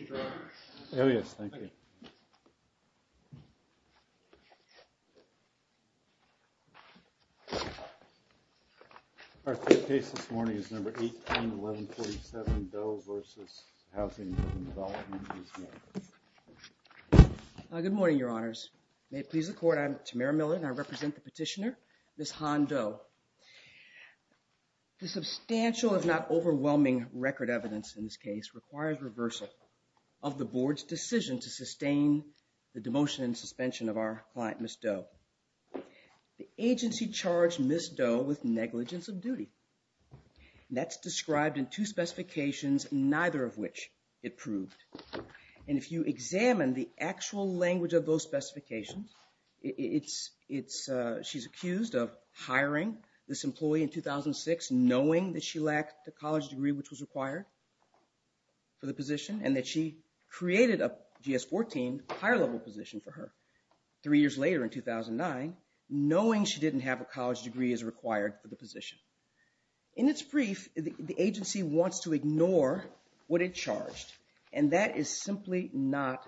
. Our third case this morning is number 18, 1147, Doe versus Housing and Development. Good morning, your honors. May it please the court, I'm Tamara Miller and I represent the petitioner, Ms. Han Doe. The substantial, if not overwhelming, record evidence in this case requires reversal of the board's decision to sustain the demotion and suspension of our client, Ms. Doe. The agency charged Ms. Doe with negligence of duty. That's described in two specifications, neither of which it proved. And if you examine the actual language of those specifications, she's accused of hiring this employee in 2006 knowing that she lacked the college degree which was required for the position and that she created a GS-14 higher level position for her three years later in 2009, knowing she didn't have a college degree as required for the position. In its brief, the agency wants to ignore what it charged, and that is simply not,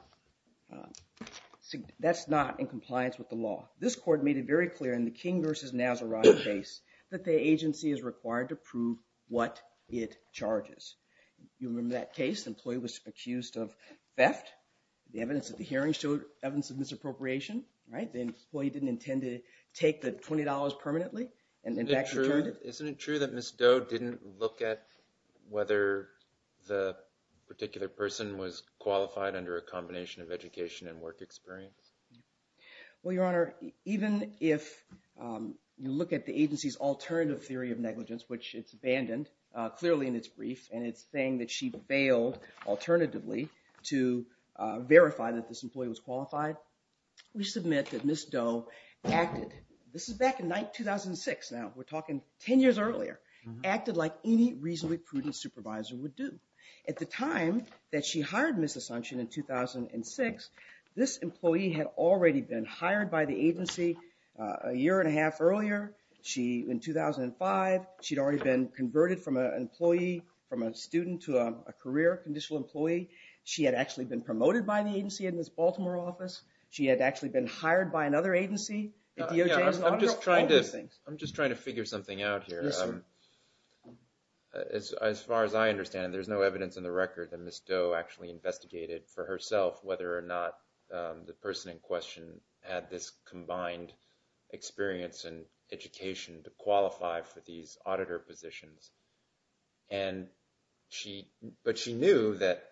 that's not in compliance with the law. This court made it very clear in the King versus Nazareth case that the agency is required to prove what it charges. You remember that case? The employee was accused of theft. The evidence at the hearing showed evidence of misappropriation, right? The employee didn't intend to take the $20 permanently. Isn't it true that Ms. Doe didn't look at whether the particular person was qualified under a combination of education and work experience? Well, Your Honor, even if you look at the agency's alternative theory of negligence, which it's abandoned clearly in its brief, and it's saying that she failed alternatively to verify that this employee was qualified, we submit that Ms. Doe acted, this is back in 2006 now, we're talking 10 years earlier, acted like any reasonably prudent supervisor would do. At the time that she hired Ms. Asuncion in 2006, this employee had already been hired by the agency a year and a half earlier. She, in 2005, she'd already been converted from an employee, from a student to a career conditional employee. She had actually been promoted by the agency in Ms. Baltimore's office. She had actually been hired by another agency. I'm just trying to figure something out here. As far as I understand, there's no evidence in the record that Ms. Doe actually investigated for herself whether or not the person in question had this combined experience and education to qualify for these auditor positions. But she knew that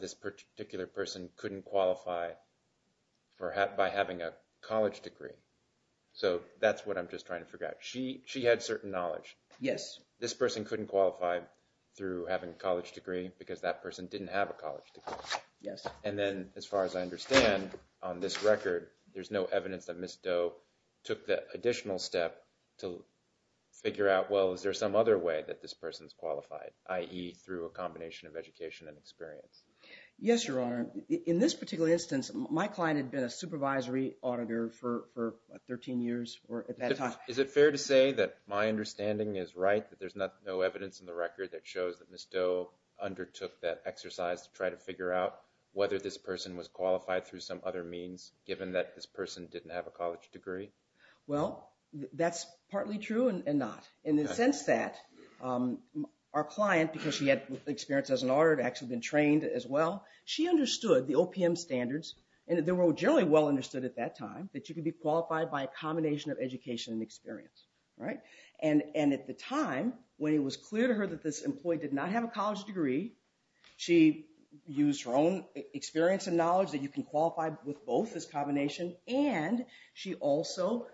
this particular person couldn't qualify by having a college degree. So that's what I'm just trying to figure out. She had certain knowledge. This person couldn't qualify through having a college degree because that person didn't have a college degree. And then, as far as I understand, on this record, there's no evidence that Ms. Doe took the additional step to figure out, well, is there some other way that this person's qualified, i.e., through a combination of education and experience? Yes, Your Honor. In this particular instance, my client had been a supervisory auditor for 13 years at that time. Is it fair to say that my understanding is right, that there's no evidence in the record that shows that Ms. Doe undertook that exercise to try to figure out whether this person was qualified through some other means, given that this person didn't have a college degree? Well, that's partly true and not. And in the sense that our client, because she had experience as an auditor and had actually been trained as well, she understood the OPM standards, and they were generally well understood at that time, that you could be qualified by a combination of education and experience. And at the time, when it was clear to her that this employee did not have a college degree, she used her own experience and knowledge that you can qualify with both as a combination, and she also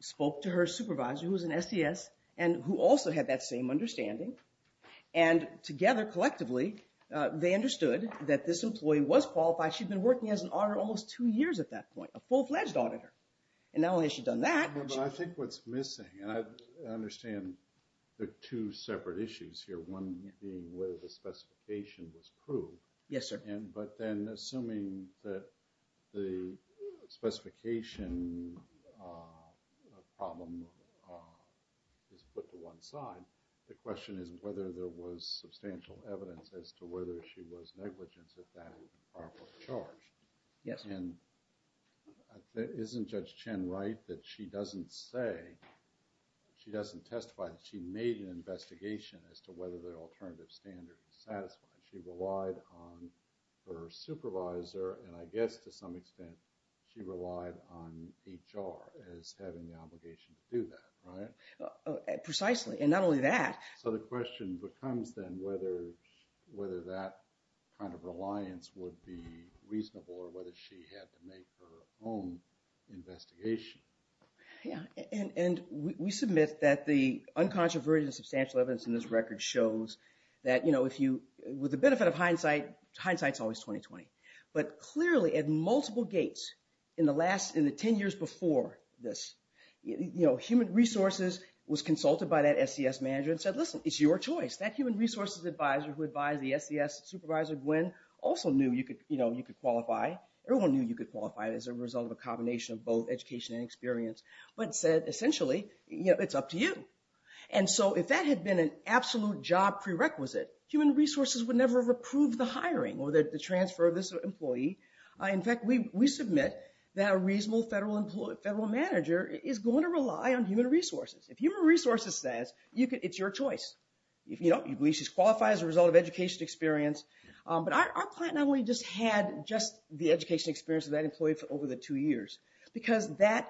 spoke to her supervisor, who was an SES, and who also had that same understanding. And together, collectively, they understood that this employee was qualified. She'd been working as an auditor almost two years at that point, a full-fledged auditor. And not only has she done that... But I think what's missing, and I understand there are two separate issues here, one being whether the specification was proved. Yes, sir. But then, assuming that the specification problem is put to one side, the question is whether there was substantial evidence as to whether she was negligent at that or charged. Yes. And isn't Judge Chen right that she doesn't say, she doesn't testify, that she made an investigation as to whether the alternative standard was satisfied? She relied on her supervisor, and I guess, to some extent, she relied on HR as having the obligation to do that, right? Precisely, and not only that... So the question becomes then whether that kind of reliance would be reasonable or whether she had to make her own investigation. Yes, and we submit that the uncontroversial substantial evidence in this record shows that, with the benefit of hindsight, hindsight's always 20-20. But clearly, at multiple gates, in the 10 years before this, Human Resources was consulted by that SES manager and said, listen, it's your choice. That Human Resources advisor who advised the SES supervisor, Gwen, also knew you could qualify. Everyone knew you could qualify as a result of a combination of both education and experience. But said, essentially, it's up to you. And so if that had been an absolute job prerequisite, Human Resources would never have approved the hiring or the transfer of this employee. In fact, we submit that a reasonable federal manager is going to rely on Human Resources. If Human Resources says, it's your choice, you believe she's qualified as a result of education experience. But our client not only just had just the education experience of that employee for over the two years, because that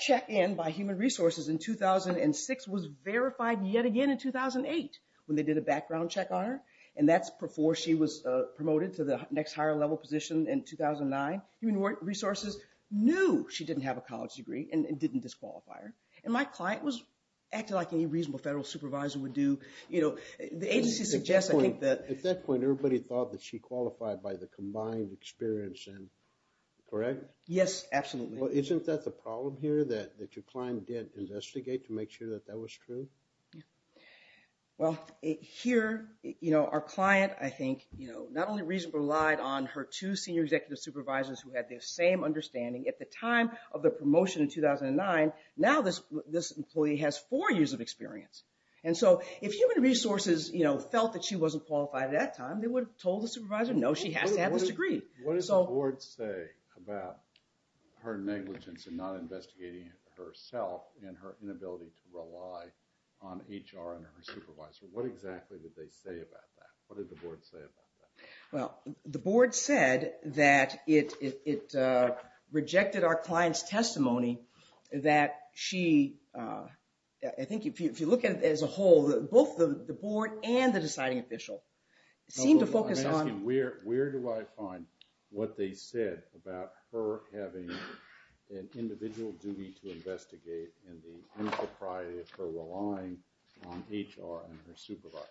check-in by Human Resources in 2006 was verified yet again in 2008 when they did a background check on her. And that's before she was promoted to the next higher level position in 2009. Human Resources knew she didn't have a college degree and didn't disqualify her. And my client was acting like any reasonable federal supervisor would do. The agency suggests, I think, that... At that point, everybody thought that she qualified by the combined experience and correct? Yes, absolutely. Well, isn't that the problem here that your client did investigate to make sure that that was true? Yeah. Well, here, you know, our client, I think, you know, not only reasonably relied on her two senior executive supervisors who had the same understanding at the time of the promotion in 2009. Now this employee has four years of experience. And so if Human Resources, you know, felt that she wasn't qualified at that time, they would have told the supervisor, no, she has to have this degree. What does the board say about her negligence in not investigating herself and her inability to rely on HR and her supervisor? What exactly did they say about that? What did the board say about that? Well, the board said that it rejected our client's testimony that she... I think if you look at it as a whole, both the board and the deciding official seemed to focus on... what they said about her having an individual duty to investigate in the insopriety of her relying on HR and her supervisor.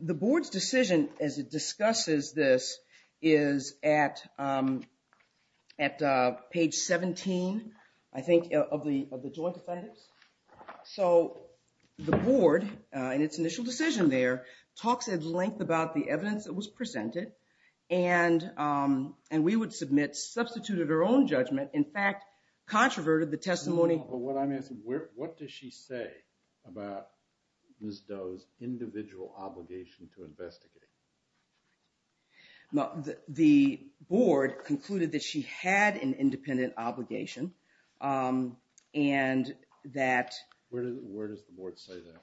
The board's decision as it discusses this is at page 17, I think, of the joint defendants. So the board, in its initial decision there, talks at length about the evidence that was presented and we would submit substituted her own judgment. In fact, controverted the testimony... But what I'm asking, what does she say about Ms. Doe's individual obligation to investigate? The board concluded that she had an independent obligation and that... Where does the board say that?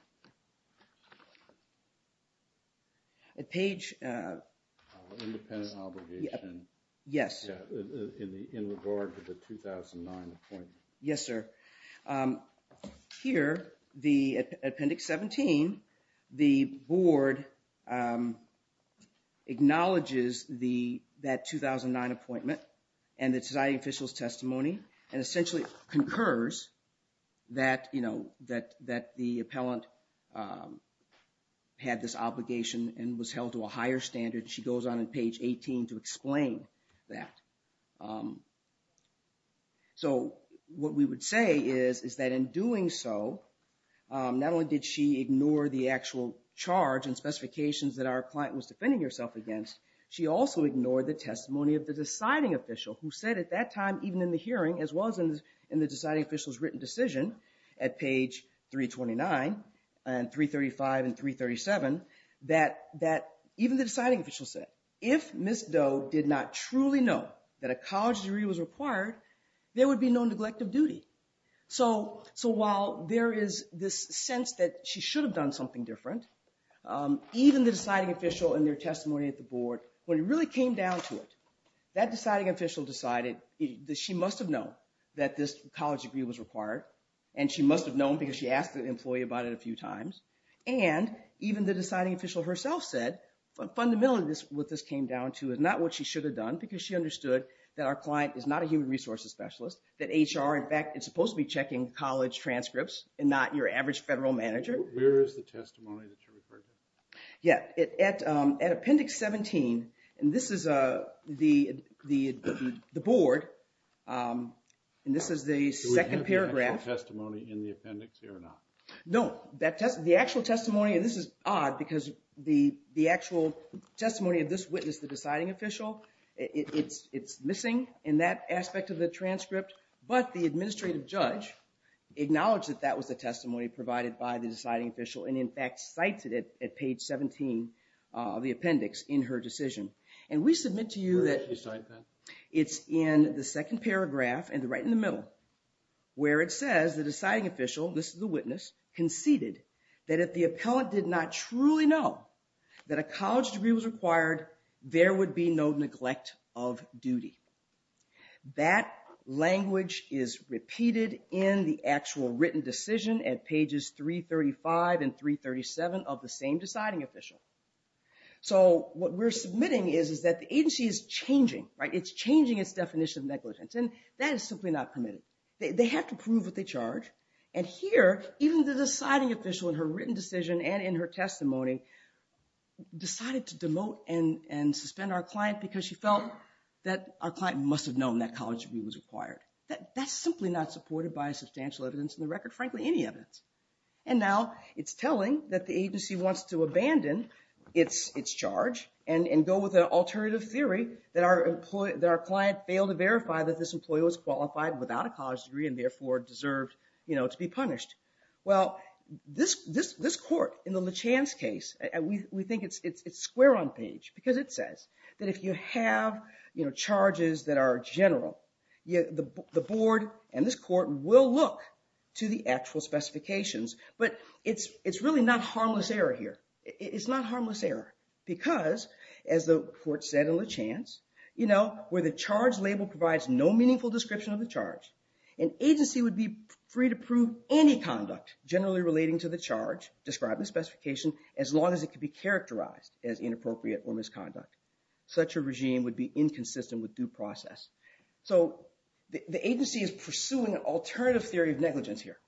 At page... Independent obligation. Yes. In regard to the 2009 appointment. Yes, sir. Here, the appendix 17, the board acknowledges that 2009 appointment and the deciding official's testimony and essentially concurs that the appellant had this obligation and was held to a higher standard. She goes on in page 18 to explain that. So what we would say is that in doing so, not only did she ignore the actual charge and specifications that our client was defending herself against, she also ignored the testimony of the deciding official who said at that time, even in the hearing, as well as in the deciding official's written decision at page 329 and 335 and 337, that even the deciding official said, if Ms. Doe did not truly know that a college degree was required, there would be no neglect of duty. So while there is this sense that she should have done something different, even the deciding official and their testimony at the board, when it really came down to it, that deciding official decided that she must have known that this college degree was required and she must have known because she asked the employee about it a few times. And even the deciding official herself said, fundamentally what this came down to is not what she should have done because she understood that our client is not a human resources specialist, that HR, in fact, is supposed to be checking college transcripts and not your average federal manager. Where is the testimony that you're referring to? Yeah, at appendix 17, and this is the board, and this is the second paragraph. Do we have the actual testimony in the appendix here or not? No, the actual testimony, and this is odd, because the actual testimony of this witness, the deciding official, it's missing in that aspect of the transcript, but the administrative judge acknowledged that that was the testimony provided by the deciding official and, in fact, cited it at page 17 of the appendix in her decision. And we submit to you that it's in the second paragraph, right in the middle, where it says the deciding official, this is the witness, conceded that if the appellant did not truly know that a college degree was required, there would be no neglect of duty. That language is repeated in the actual written decision at pages 335 and 337 of the same deciding official. So what we're submitting is that the agency is changing, right? It's changing its definition of negligence, and that is simply not permitted. They have to prove what they charge, and here, even the deciding official in her written decision and in her testimony decided to demote and suspend our client because she felt that our client must have known that college degree was required. That's simply not supported by substantial evidence in the record, frankly, any evidence. And now it's telling that the agency wants to abandon its charge and go with an alternative theory that our client failed to verify that this employee was qualified without a college degree and therefore deserved to be punished. Well, this court in the LeChan's case, we think it's square on page because it says that if you have charges that are general, the board and this court will look to the actual specifications, but it's really not harmless error here. It's not harmless error because, as the court said in LeChan's, where the charge label provides no meaningful description of the charge, an agency would be free to prove any conduct generally relating to the charge, describe the specification, as long as it could be characterized as inappropriate or misconduct. Such a regime would be inconsistent with due process. So the agency is pursuing an alternative theory of negligence here,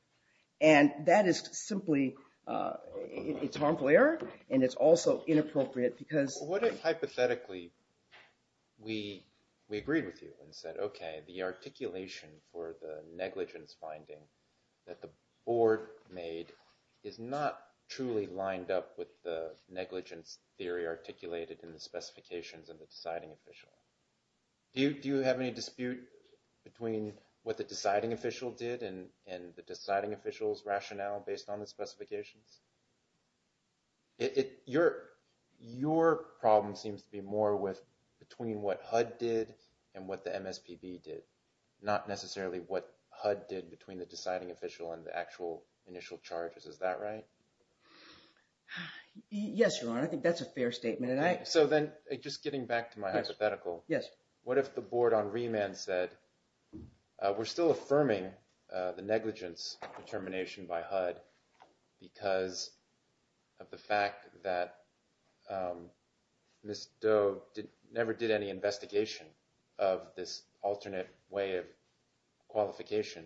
and that is simply harmful error, and it's also inappropriate because... What if, hypothetically, we agreed with you and said, okay, the articulation for the negligence finding that the board made is not truly lined up with the negligence theory articulated in the specifications of the deciding official? Do you have any dispute between what the deciding official did and the deciding official's rationale based on the specifications? Your problem seems to be more with between what HUD did and what the MSPB did, not necessarily what HUD did between the deciding official and the actual initial charges. Is that right? Yes, Your Honor. I think that's a fair statement. So then, just getting back to my hypothetical, what if the board on remand said, we're still affirming the negligence determination by HUD because of the fact that Ms. Doe never did any investigation of this alternate way of qualification.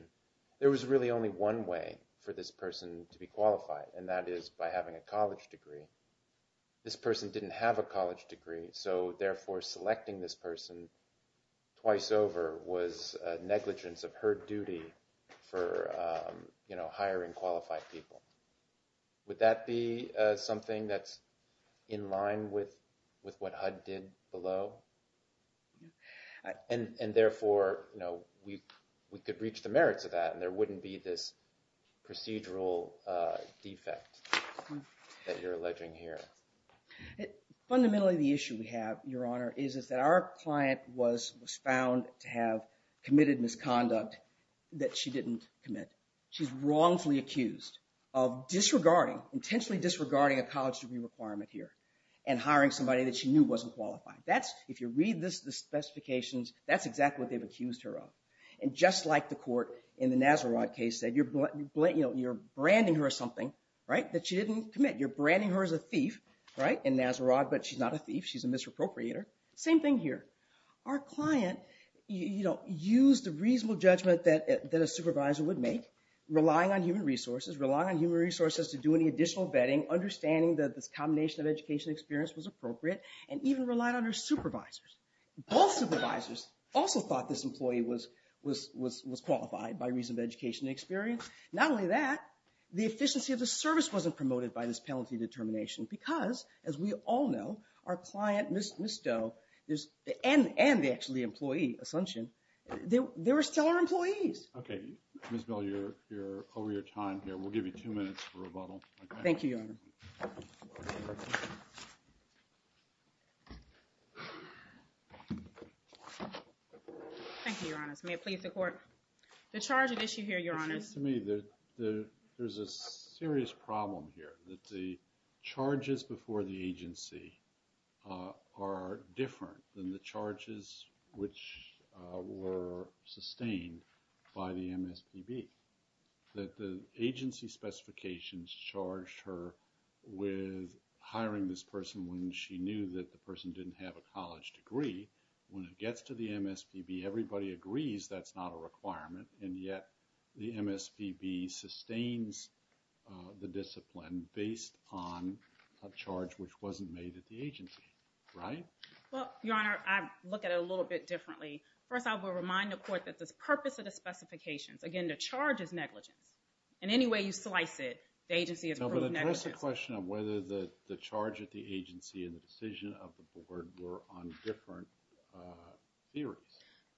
There was really only one way for this person to be qualified, and that is by having a college degree. This person didn't have a college degree, so therefore selecting this person twice over was negligence of her duty for hiring qualified people. Would that be something that's in line with what HUD did below? And therefore, we could reach the merits of that, and there wouldn't be this procedural defect that you're alleging here. Fundamentally, the issue we have, Your Honor, is that our client was found to have committed misconduct that she didn't commit. She's wrongfully accused of disregarding, intentionally disregarding a college degree requirement here and hiring somebody that she knew wasn't qualified. If you read the specifications, that's exactly what they've accused her of. And just like the court in the Nazarod case said, you're branding her of something that she didn't commit. You're branding her as a thief in Nazarod, but she's not a thief. She's a misappropriator. Same thing here. Our client used the reasonable judgment that a supervisor would make, relying on human resources, relying on human resources to do any additional vetting, understanding that this combination of education and experience was appropriate, and even relied on her supervisors. Both supervisors also thought this employee was qualified by reason of education and experience. Not only that, the efficiency of the service wasn't promoted by this penalty determination because, as we all know, our client, Ms. Doe, and the employee, Asuncion, they were still our employees. Okay. Ms. Bell, you're over your time here. We'll give you two minutes for rebuttal. Thank you, Your Honor. Thank you, Your Honor. May it please the Court. The charge at issue here, Your Honor. It seems to me that there's a serious problem here, that the charges before the agency are different than the charges which were sustained by the MSPB, that the agency specifications charged her with hiring this person when she knew that the person didn't have a college degree. When it gets to the MSPB, everybody agrees that's not a requirement, and yet the MSPB sustains the discipline based on a charge which wasn't made at the agency, right? Well, Your Honor, I look at it a little bit differently. First, I will remind the Court that the purpose of the specifications, again, the charge is negligence. In any way you slice it, the agency has proved negligence. No, but address the question of whether the charge at the agency and the decision of the Board were on different theories.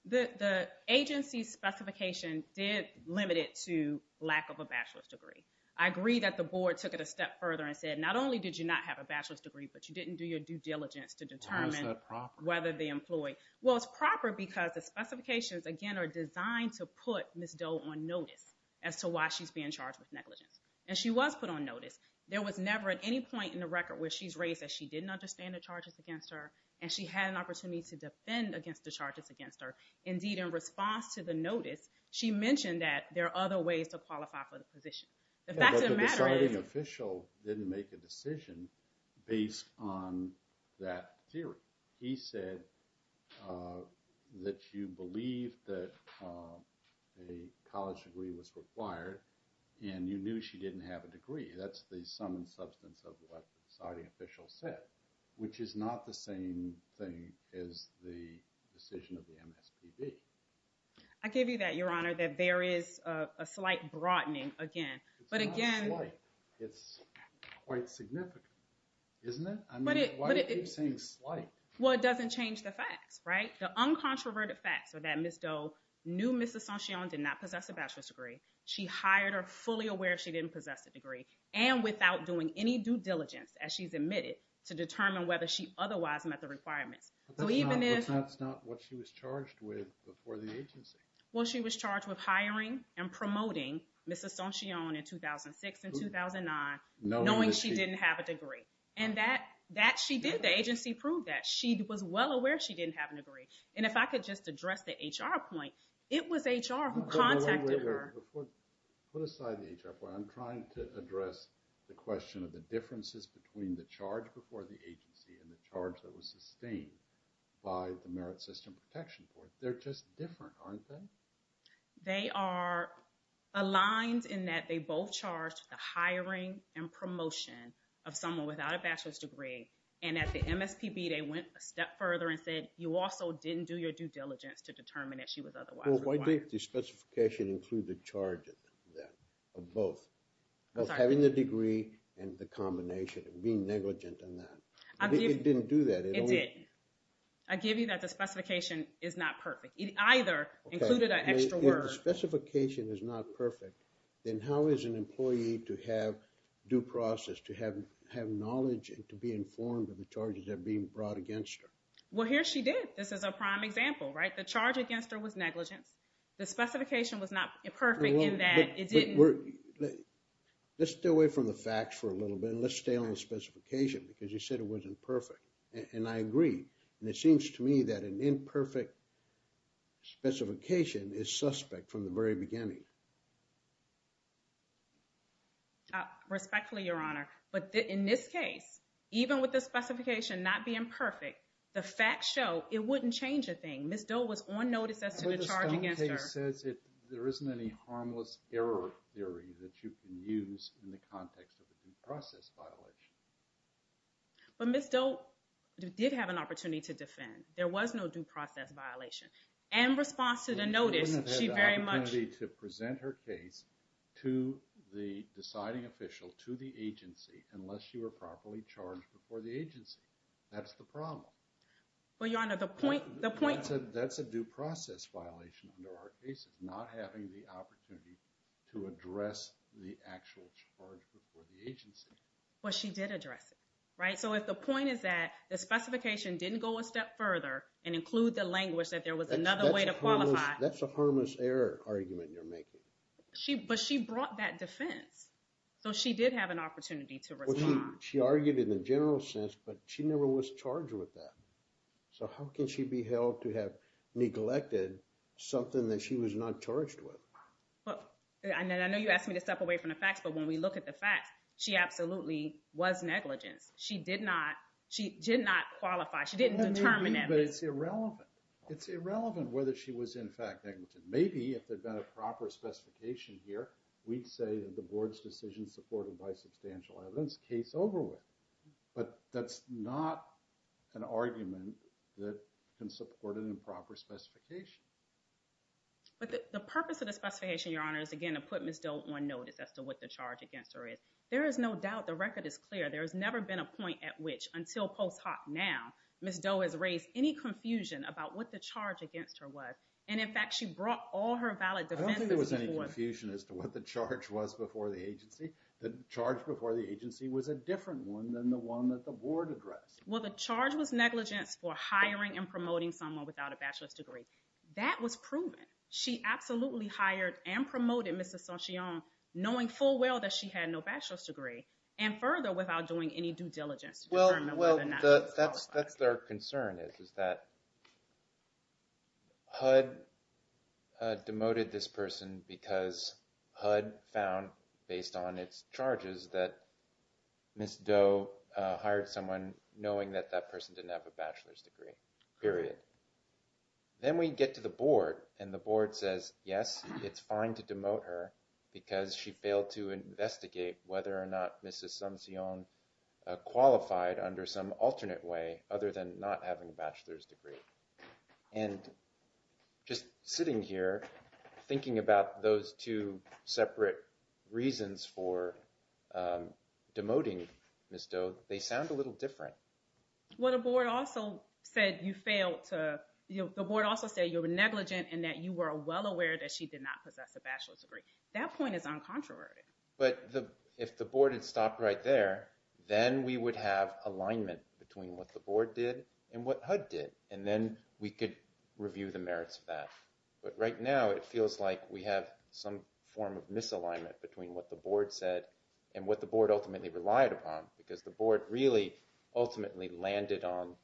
The agency specification did limit it to lack of a bachelor's degree. I agree that the Board took it a step further and said, not only did you not have a bachelor's degree, but you didn't do your due diligence to determine whether the employee. How is that proper? Well, it's proper because the specifications, again, are designed to put Ms. Doe on notice as to why she's being charged with negligence. And she was put on notice. There was never at any point in the record where she's raised that she didn't understand the charges against her and she had an opportunity to defend against the charges against her. Indeed, in response to the notice, she mentioned that there are other ways to qualify for the position. The fact of the matter is... But the deciding official didn't make a decision based on that theory. He said that you believe that a college degree was required and you knew she didn't have a degree. That's the sum and substance of what the deciding official said, which is not the same thing as the decision of the MSPB. I give you that, Your Honor, that there is a slight broadening again. It's not slight. It's quite significant, isn't it? I mean, why do you keep saying slight? Well, it doesn't change the facts, right? The uncontroverted facts are that Ms. Doe knew Ms. Asuncion did not possess a bachelor's degree. She hired her fully aware she didn't possess a degree and without doing any due diligence, as she's admitted, to determine whether she otherwise met the requirements. But that's not what she was charged with before the agency. Well, she was charged with hiring and promoting Ms. Asuncion in 2006 and 2009, knowing she didn't have a degree. And that she did. The agency proved that. She was well aware she didn't have a degree. And if I could just address the HR point, it was HR who contacted her. Put aside the HR point. I'm trying to address the question of the differences between the charge before the agency and the charge that was sustained by the Merit System Protection Court. They're just different, aren't they? They are aligned in that they both charged the hiring and promotion of someone without a bachelor's degree. And at the MSPB, they went a step further and said, you also didn't do your due diligence to determine that she was otherwise required. Why didn't the specification include the charge of both? Of having the degree and the combination, and being negligent in that. It didn't do that. It did. I give you that the specification is not perfect. It either included an extra word. If the specification is not perfect, then how is an employee to have due process, to have knowledge and to be informed of the charges that are being brought against her? Well, here she did. This is a prime example, right? The charge against her was negligence. The specification was not perfect in that it didn't. Let's stay away from the facts for a little bit. And let's stay on the specification because you said it wasn't perfect. And I agree. And it seems to me that an imperfect specification is suspect from the very beginning. Respectfully, Your Honor. But in this case, even with the specification not being perfect, the facts show it wouldn't change a thing. Ms. Doe was on notice as to the charge against her. But the stunt case says there isn't any harmless error theory that you can use in the context of a due process violation. But Ms. Doe did have an opportunity to defend. There was no due process violation. In response to the notice, she very much... She wouldn't have had the opportunity to present her case unless she were properly charged before the agency. That's the problem. Well, Your Honor, the point... That's a due process violation under our case. It's not having the opportunity to address the actual charge before the agency. But she did address it, right? So if the point is that the specification didn't go a step further and include the language that there was another way to qualify... That's a harmless error argument you're making. But she brought that defense. So she did have an opportunity to respond. She argued in the general sense, but she never was charged with that. So how can she be held to have neglected something that she was not charged with? I know you asked me to step away from the facts, but when we look at the facts, she absolutely was negligent. She did not qualify. She didn't determine that. But it's irrelevant. It's irrelevant whether she was in fact negligent. Maybe if there had been a proper specification here, we'd say that the board's decision supported by substantial evidence to bring this case over with. But that's not an argument that can support an improper specification. But the purpose of the specification, Your Honor, is again to put Ms. Doe on notice as to what the charge against her is. There is no doubt, the record is clear, there has never been a point at which, until post hoc now, Ms. Doe has raised any confusion about what the charge against her was. And in fact, she brought all her valid defenses before... I don't think there was any confusion as to what the charge was before the agency. The charge before the agency was a different one than the one that the board addressed. Well, the charge was negligence for hiring and promoting someone without a bachelor's degree. That was proven. She absolutely hired and promoted Mr. Saint-Jean knowing full well that she had no bachelor's degree. And further, without doing any due diligence. Well, that's their concern is that HUD demoted this person because HUD found, based on its charges, that Ms. Doe hired someone knowing that that person didn't have a bachelor's degree. Period. Then we get to the board, and the board says, yes, it's fine to demote her because she failed to investigate whether or not Mrs. Saint-Jean qualified under some alternate way other than not having a bachelor's degree. And just sitting here, thinking about those two separate reasons for demoting Ms. Doe, they sound a little different. Well, the board also said you failed to... The board also said you were negligent and that you were well aware that she did not possess a bachelor's degree. That point is uncontroverted. But if the board had stopped right there, then we would have alignment between what the board did and what HUD did. And then we could review the merits of that. But right now, it feels like we have some form of misalignment between what the board said and what the board ultimately relied upon because the board really ultimately landed on,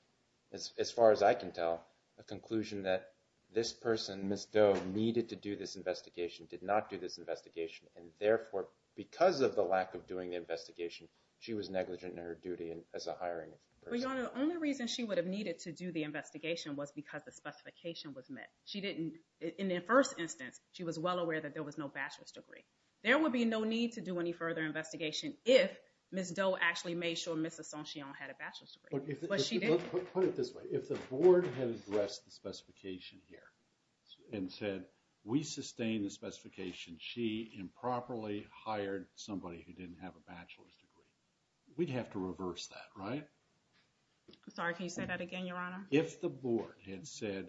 as far as I can tell, a conclusion that this person, Ms. Doe, needed to do this investigation, did not do this investigation, and therefore, because of the lack of doing the investigation, she was negligent in her duty as a hiring person. Your Honor, the only reason she would have needed to do the investigation was because the specification was met. In the first instance, she was well aware that there was no bachelor's degree. There would be no need to do any further investigation if Ms. Doe actually made sure Ms. Assangean had a bachelor's degree. But she didn't. Put it this way. If the board had addressed the specification here and said, we sustain the specification she improperly hired somebody who didn't have a bachelor's degree, we'd have to reverse that, right? Sorry, can you say that again, Your Honor? If the board had said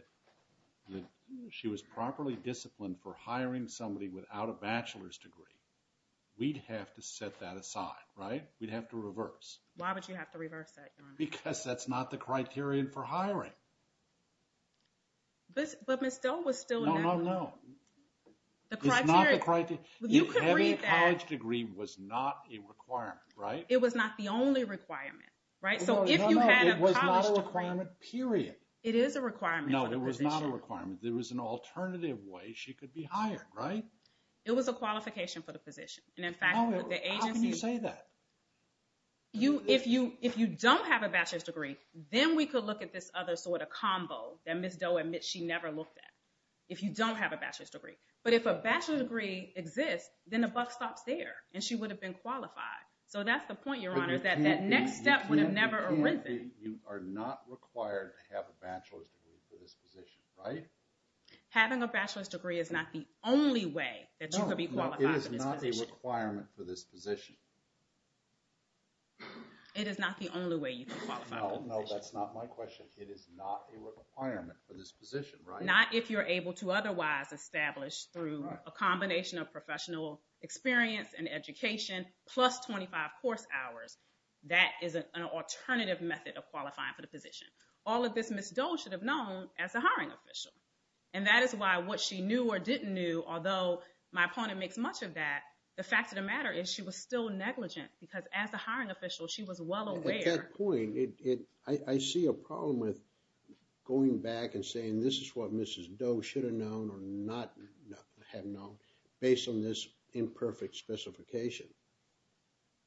that she was properly disciplined for hiring somebody without a bachelor's degree, we'd have to set that aside, right? We'd have to reverse. Why would you have to reverse that, Your Honor? Because that's not the criterion for hiring. But Ms. Doe was still... No, no, no. It's not the criteria. You can read that. A college degree was not a requirement, right? It was not the only requirement, right? So if you had a college degree... No, no, no. It was not a requirement, period. It is a requirement. No, it was not a requirement. There was an alternative way she could be hired, right? It was a qualification for the position. And in fact, the agency... How can you say that? If you don't have a bachelor's degree, then we could look at this other sort of combo that Ms. Doe admits she never looked at if you don't have a bachelor's degree. But if a bachelor's degree exists, then the buck stops there, and she would have been qualified. So that's the point, Your Honor, that that next step would have never arisen. You are not required to have a bachelor's degree for this position, right? Having a bachelor's degree is not the only way that you could be qualified for this position. No, it is not a requirement for this position. It is not the only way you could qualify for this position. No, no, that's not my question. It is not a requirement for this position, right? Not if you're able to otherwise establish through a combination of professional experience and education plus 25 course hours. That is an alternative method of qualifying for the position. All of this Ms. Doe should have known as a hiring official. And that is why what she knew or didn't know, although my opponent makes much of that, the fact of the matter is she was still negligent because as a hiring official, she was well aware... At that point, I see a problem with going back and saying, this is what Mrs. Doe should have known or not have known based on this imperfect specification.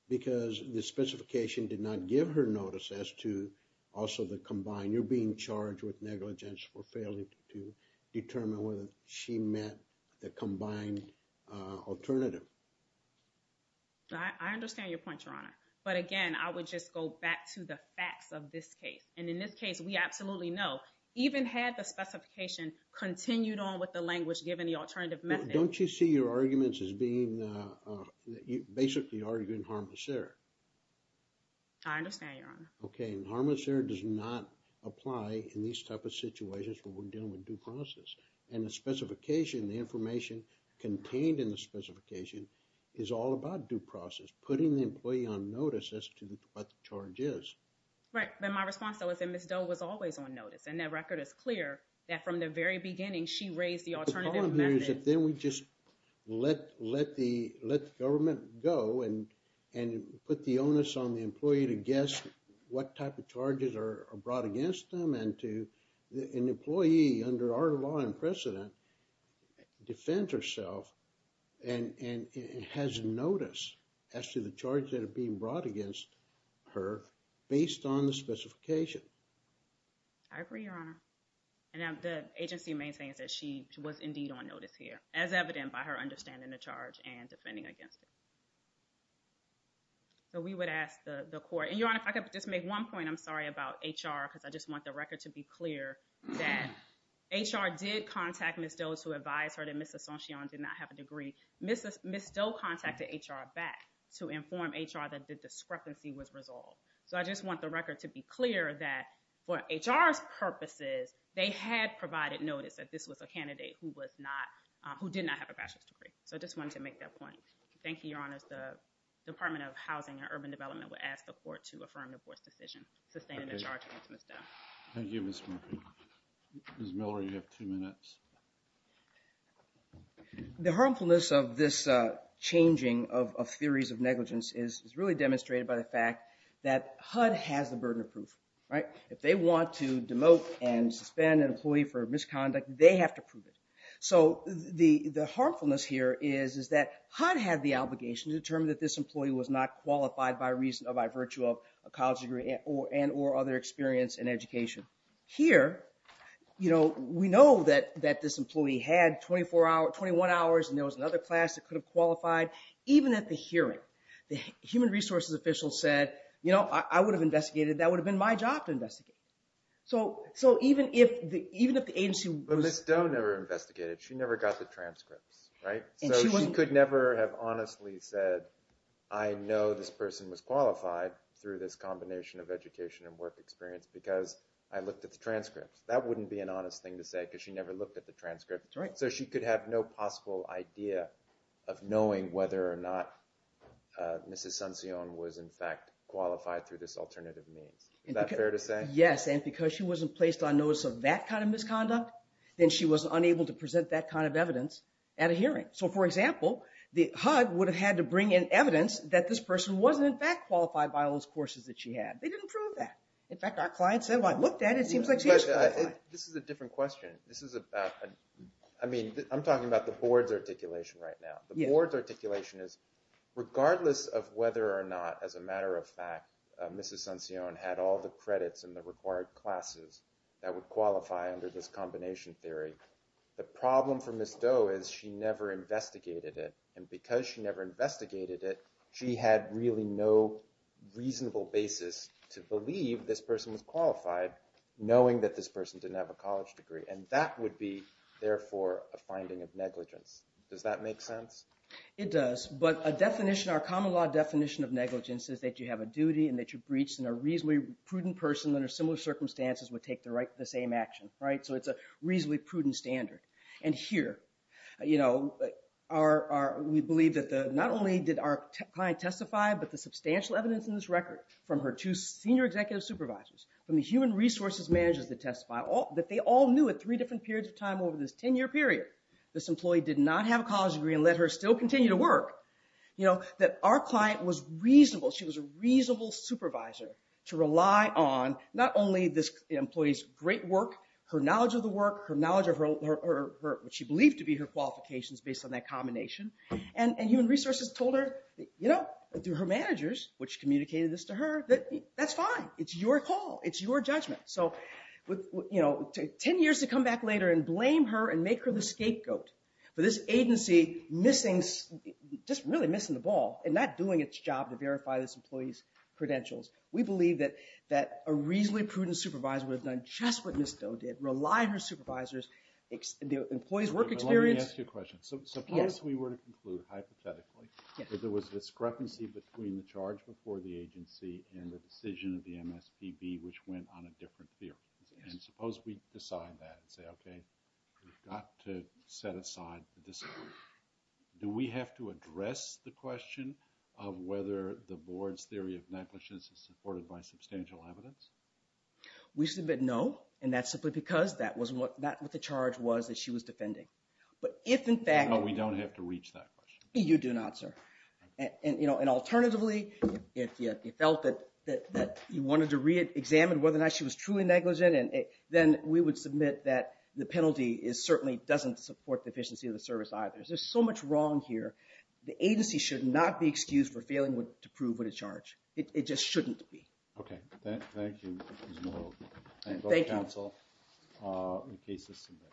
Because the specification did not give her notice as to also the combined... You're being charged with negligence for failing to determine whether she met the combined alternative. I understand your point, Your Honor. But again, I would just go back to the facts of this case. And in this case, we absolutely know. Even had the specification continued on with the language given the alternative method... Don't you see your arguments as being... Basically, you're arguing harmless error. I understand, Your Honor. Okay, and harmless error does not apply in these type of situations when we're dealing with due process. And the specification, the information contained in the specification is all about due process, putting the employee on notice as to what the charge is. Right. But my response, though, is that Mrs. Doe was always on notice. And that record is clear that from the very beginning, she raised the alternative method. The problem here is that then we just let the government go and put the onus on the employee to guess what type of charges are brought against them and an employee under our law and precedent defends herself and has notice as to the charge that are being brought against her based on the specification. I agree, Your Honor. And the agency maintains that she was indeed on notice here, as evident by her understanding the charge and defending against it. So we would ask the court... And Your Honor, if I could just make one point, I'm sorry about HR because I just want the record to be clear that HR did contact Mrs. Doe to advise her that Mrs. Sonchion did not have a degree. Mrs. Doe contacted HR back to inform HR that the discrepancy was resolved. So I just want the record to be clear that for HR's purposes, they had provided notice that this was a candidate who did not have a bachelor's degree. So I just wanted to make that point. Thank you, Your Honor. The Department of Housing and Urban Development would ask the court to affirm the court's decision sustaining the charge against Mrs. Doe. Thank you, Ms. Murphy. Ms. Miller, you have two minutes. The harmfulness of this changing of theories of negligence is really demonstrated by the fact that HUD has the burden of proof, right? If they want to demote and suspend an employee for misconduct, they have to prove it. So the harmfulness here is that HUD had the obligation to determine that this employee was not qualified by virtue of a college degree and or other experience in education. Here, you know, we know that this employee had 21 hours and there was another class that could have qualified. Even at the hearing, the human resources official said, you know, I would have investigated. That would have been my job to investigate. So even if the agency was... But Ms. Doe never investigated. She never got the transcripts, right? So she could never have honestly said, I know this person was qualified through this combination of education and work experience because I looked at the transcripts. That wouldn't be an honest thing to say because she never looked at the transcripts. So she could have no possible idea of knowing whether or not Mrs. Sancion was, in fact, qualified through this alternative means. Is that fair to say? Yes, and because she wasn't placed on notice of that kind of misconduct, then she was unable to present that kind of evidence at a hearing. So, for example, HUD would have had to bring in evidence that this person wasn't, in fact, qualified by those courses that she had. They didn't prove that. In fact, our clients said, well, I looked at it. It seems like she was qualified. This is a different question. This is about... I mean, I'm talking about the board's articulation right now. The board's articulation is regardless of whether or not, as a matter of fact, Mrs. Sancion had all the credits and the required classes that would qualify under this combination theory. The problem for Ms. Doe is she never investigated it. And because she never investigated it, she had really no reasonable basis to believe this person was qualified, knowing that this person didn't have a college degree. And that would be, therefore, a finding of negligence. Does that make sense? It does. But a definition, our common law definition of negligence is that you have a duty and that you're breached and a reasonably prudent person under similar circumstances would take the same action, right? So it's a reasonably prudent standard. And here, you know, we believe that not only did our client testify, but the substantial evidence in this record from her two senior executive supervisors, from the human resources managers that testified, that they all knew at three different periods of time over this 10-year period, this employee did not have a college degree and let her still continue to work, that our client was reasonable. She was a reasonable supervisor to rely on not only this employee's great work, her knowledge of the work, her knowledge of what she believed to be her qualifications based on that combination, and human resources told her, you know, through her managers, which communicated this to her, that that's fine. It's your call. It's your judgment. So, you know, 10 years to come back later and blame her and make her the scapegoat for this agency missing, just really missing the ball and not doing its job to verify this employee's credentials. We believe that a reasonably prudent supervisor would have done just what Ms. Doe did, rely on her supervisors, the employee's work experience... Let me ask you a question. Suppose we were to conclude, hypothetically, that there was a discrepancy between the charge before the agency and the decision of the MSPB which went on a different theory. And suppose we decide that and say, okay, we've got to set aside the decision. Do we have to address the question of whether the board's theory of negligence is supported by substantial evidence? We submit no, and that's simply because that was not what the charge was that she was defending. But if, in fact... But we don't have to reach that question. You do not, sir. And, you know, alternatively, if you felt that you wanted to re-examine whether or not she was truly negligent, then we would submit that the penalty certainly doesn't support the efficiency of the service either. There's just so much wrong here. The agency should not be excused for failing to prove what it charged. It just shouldn't be. Okay, thank you. Thank you. Thank you, counsel. The case is submitted.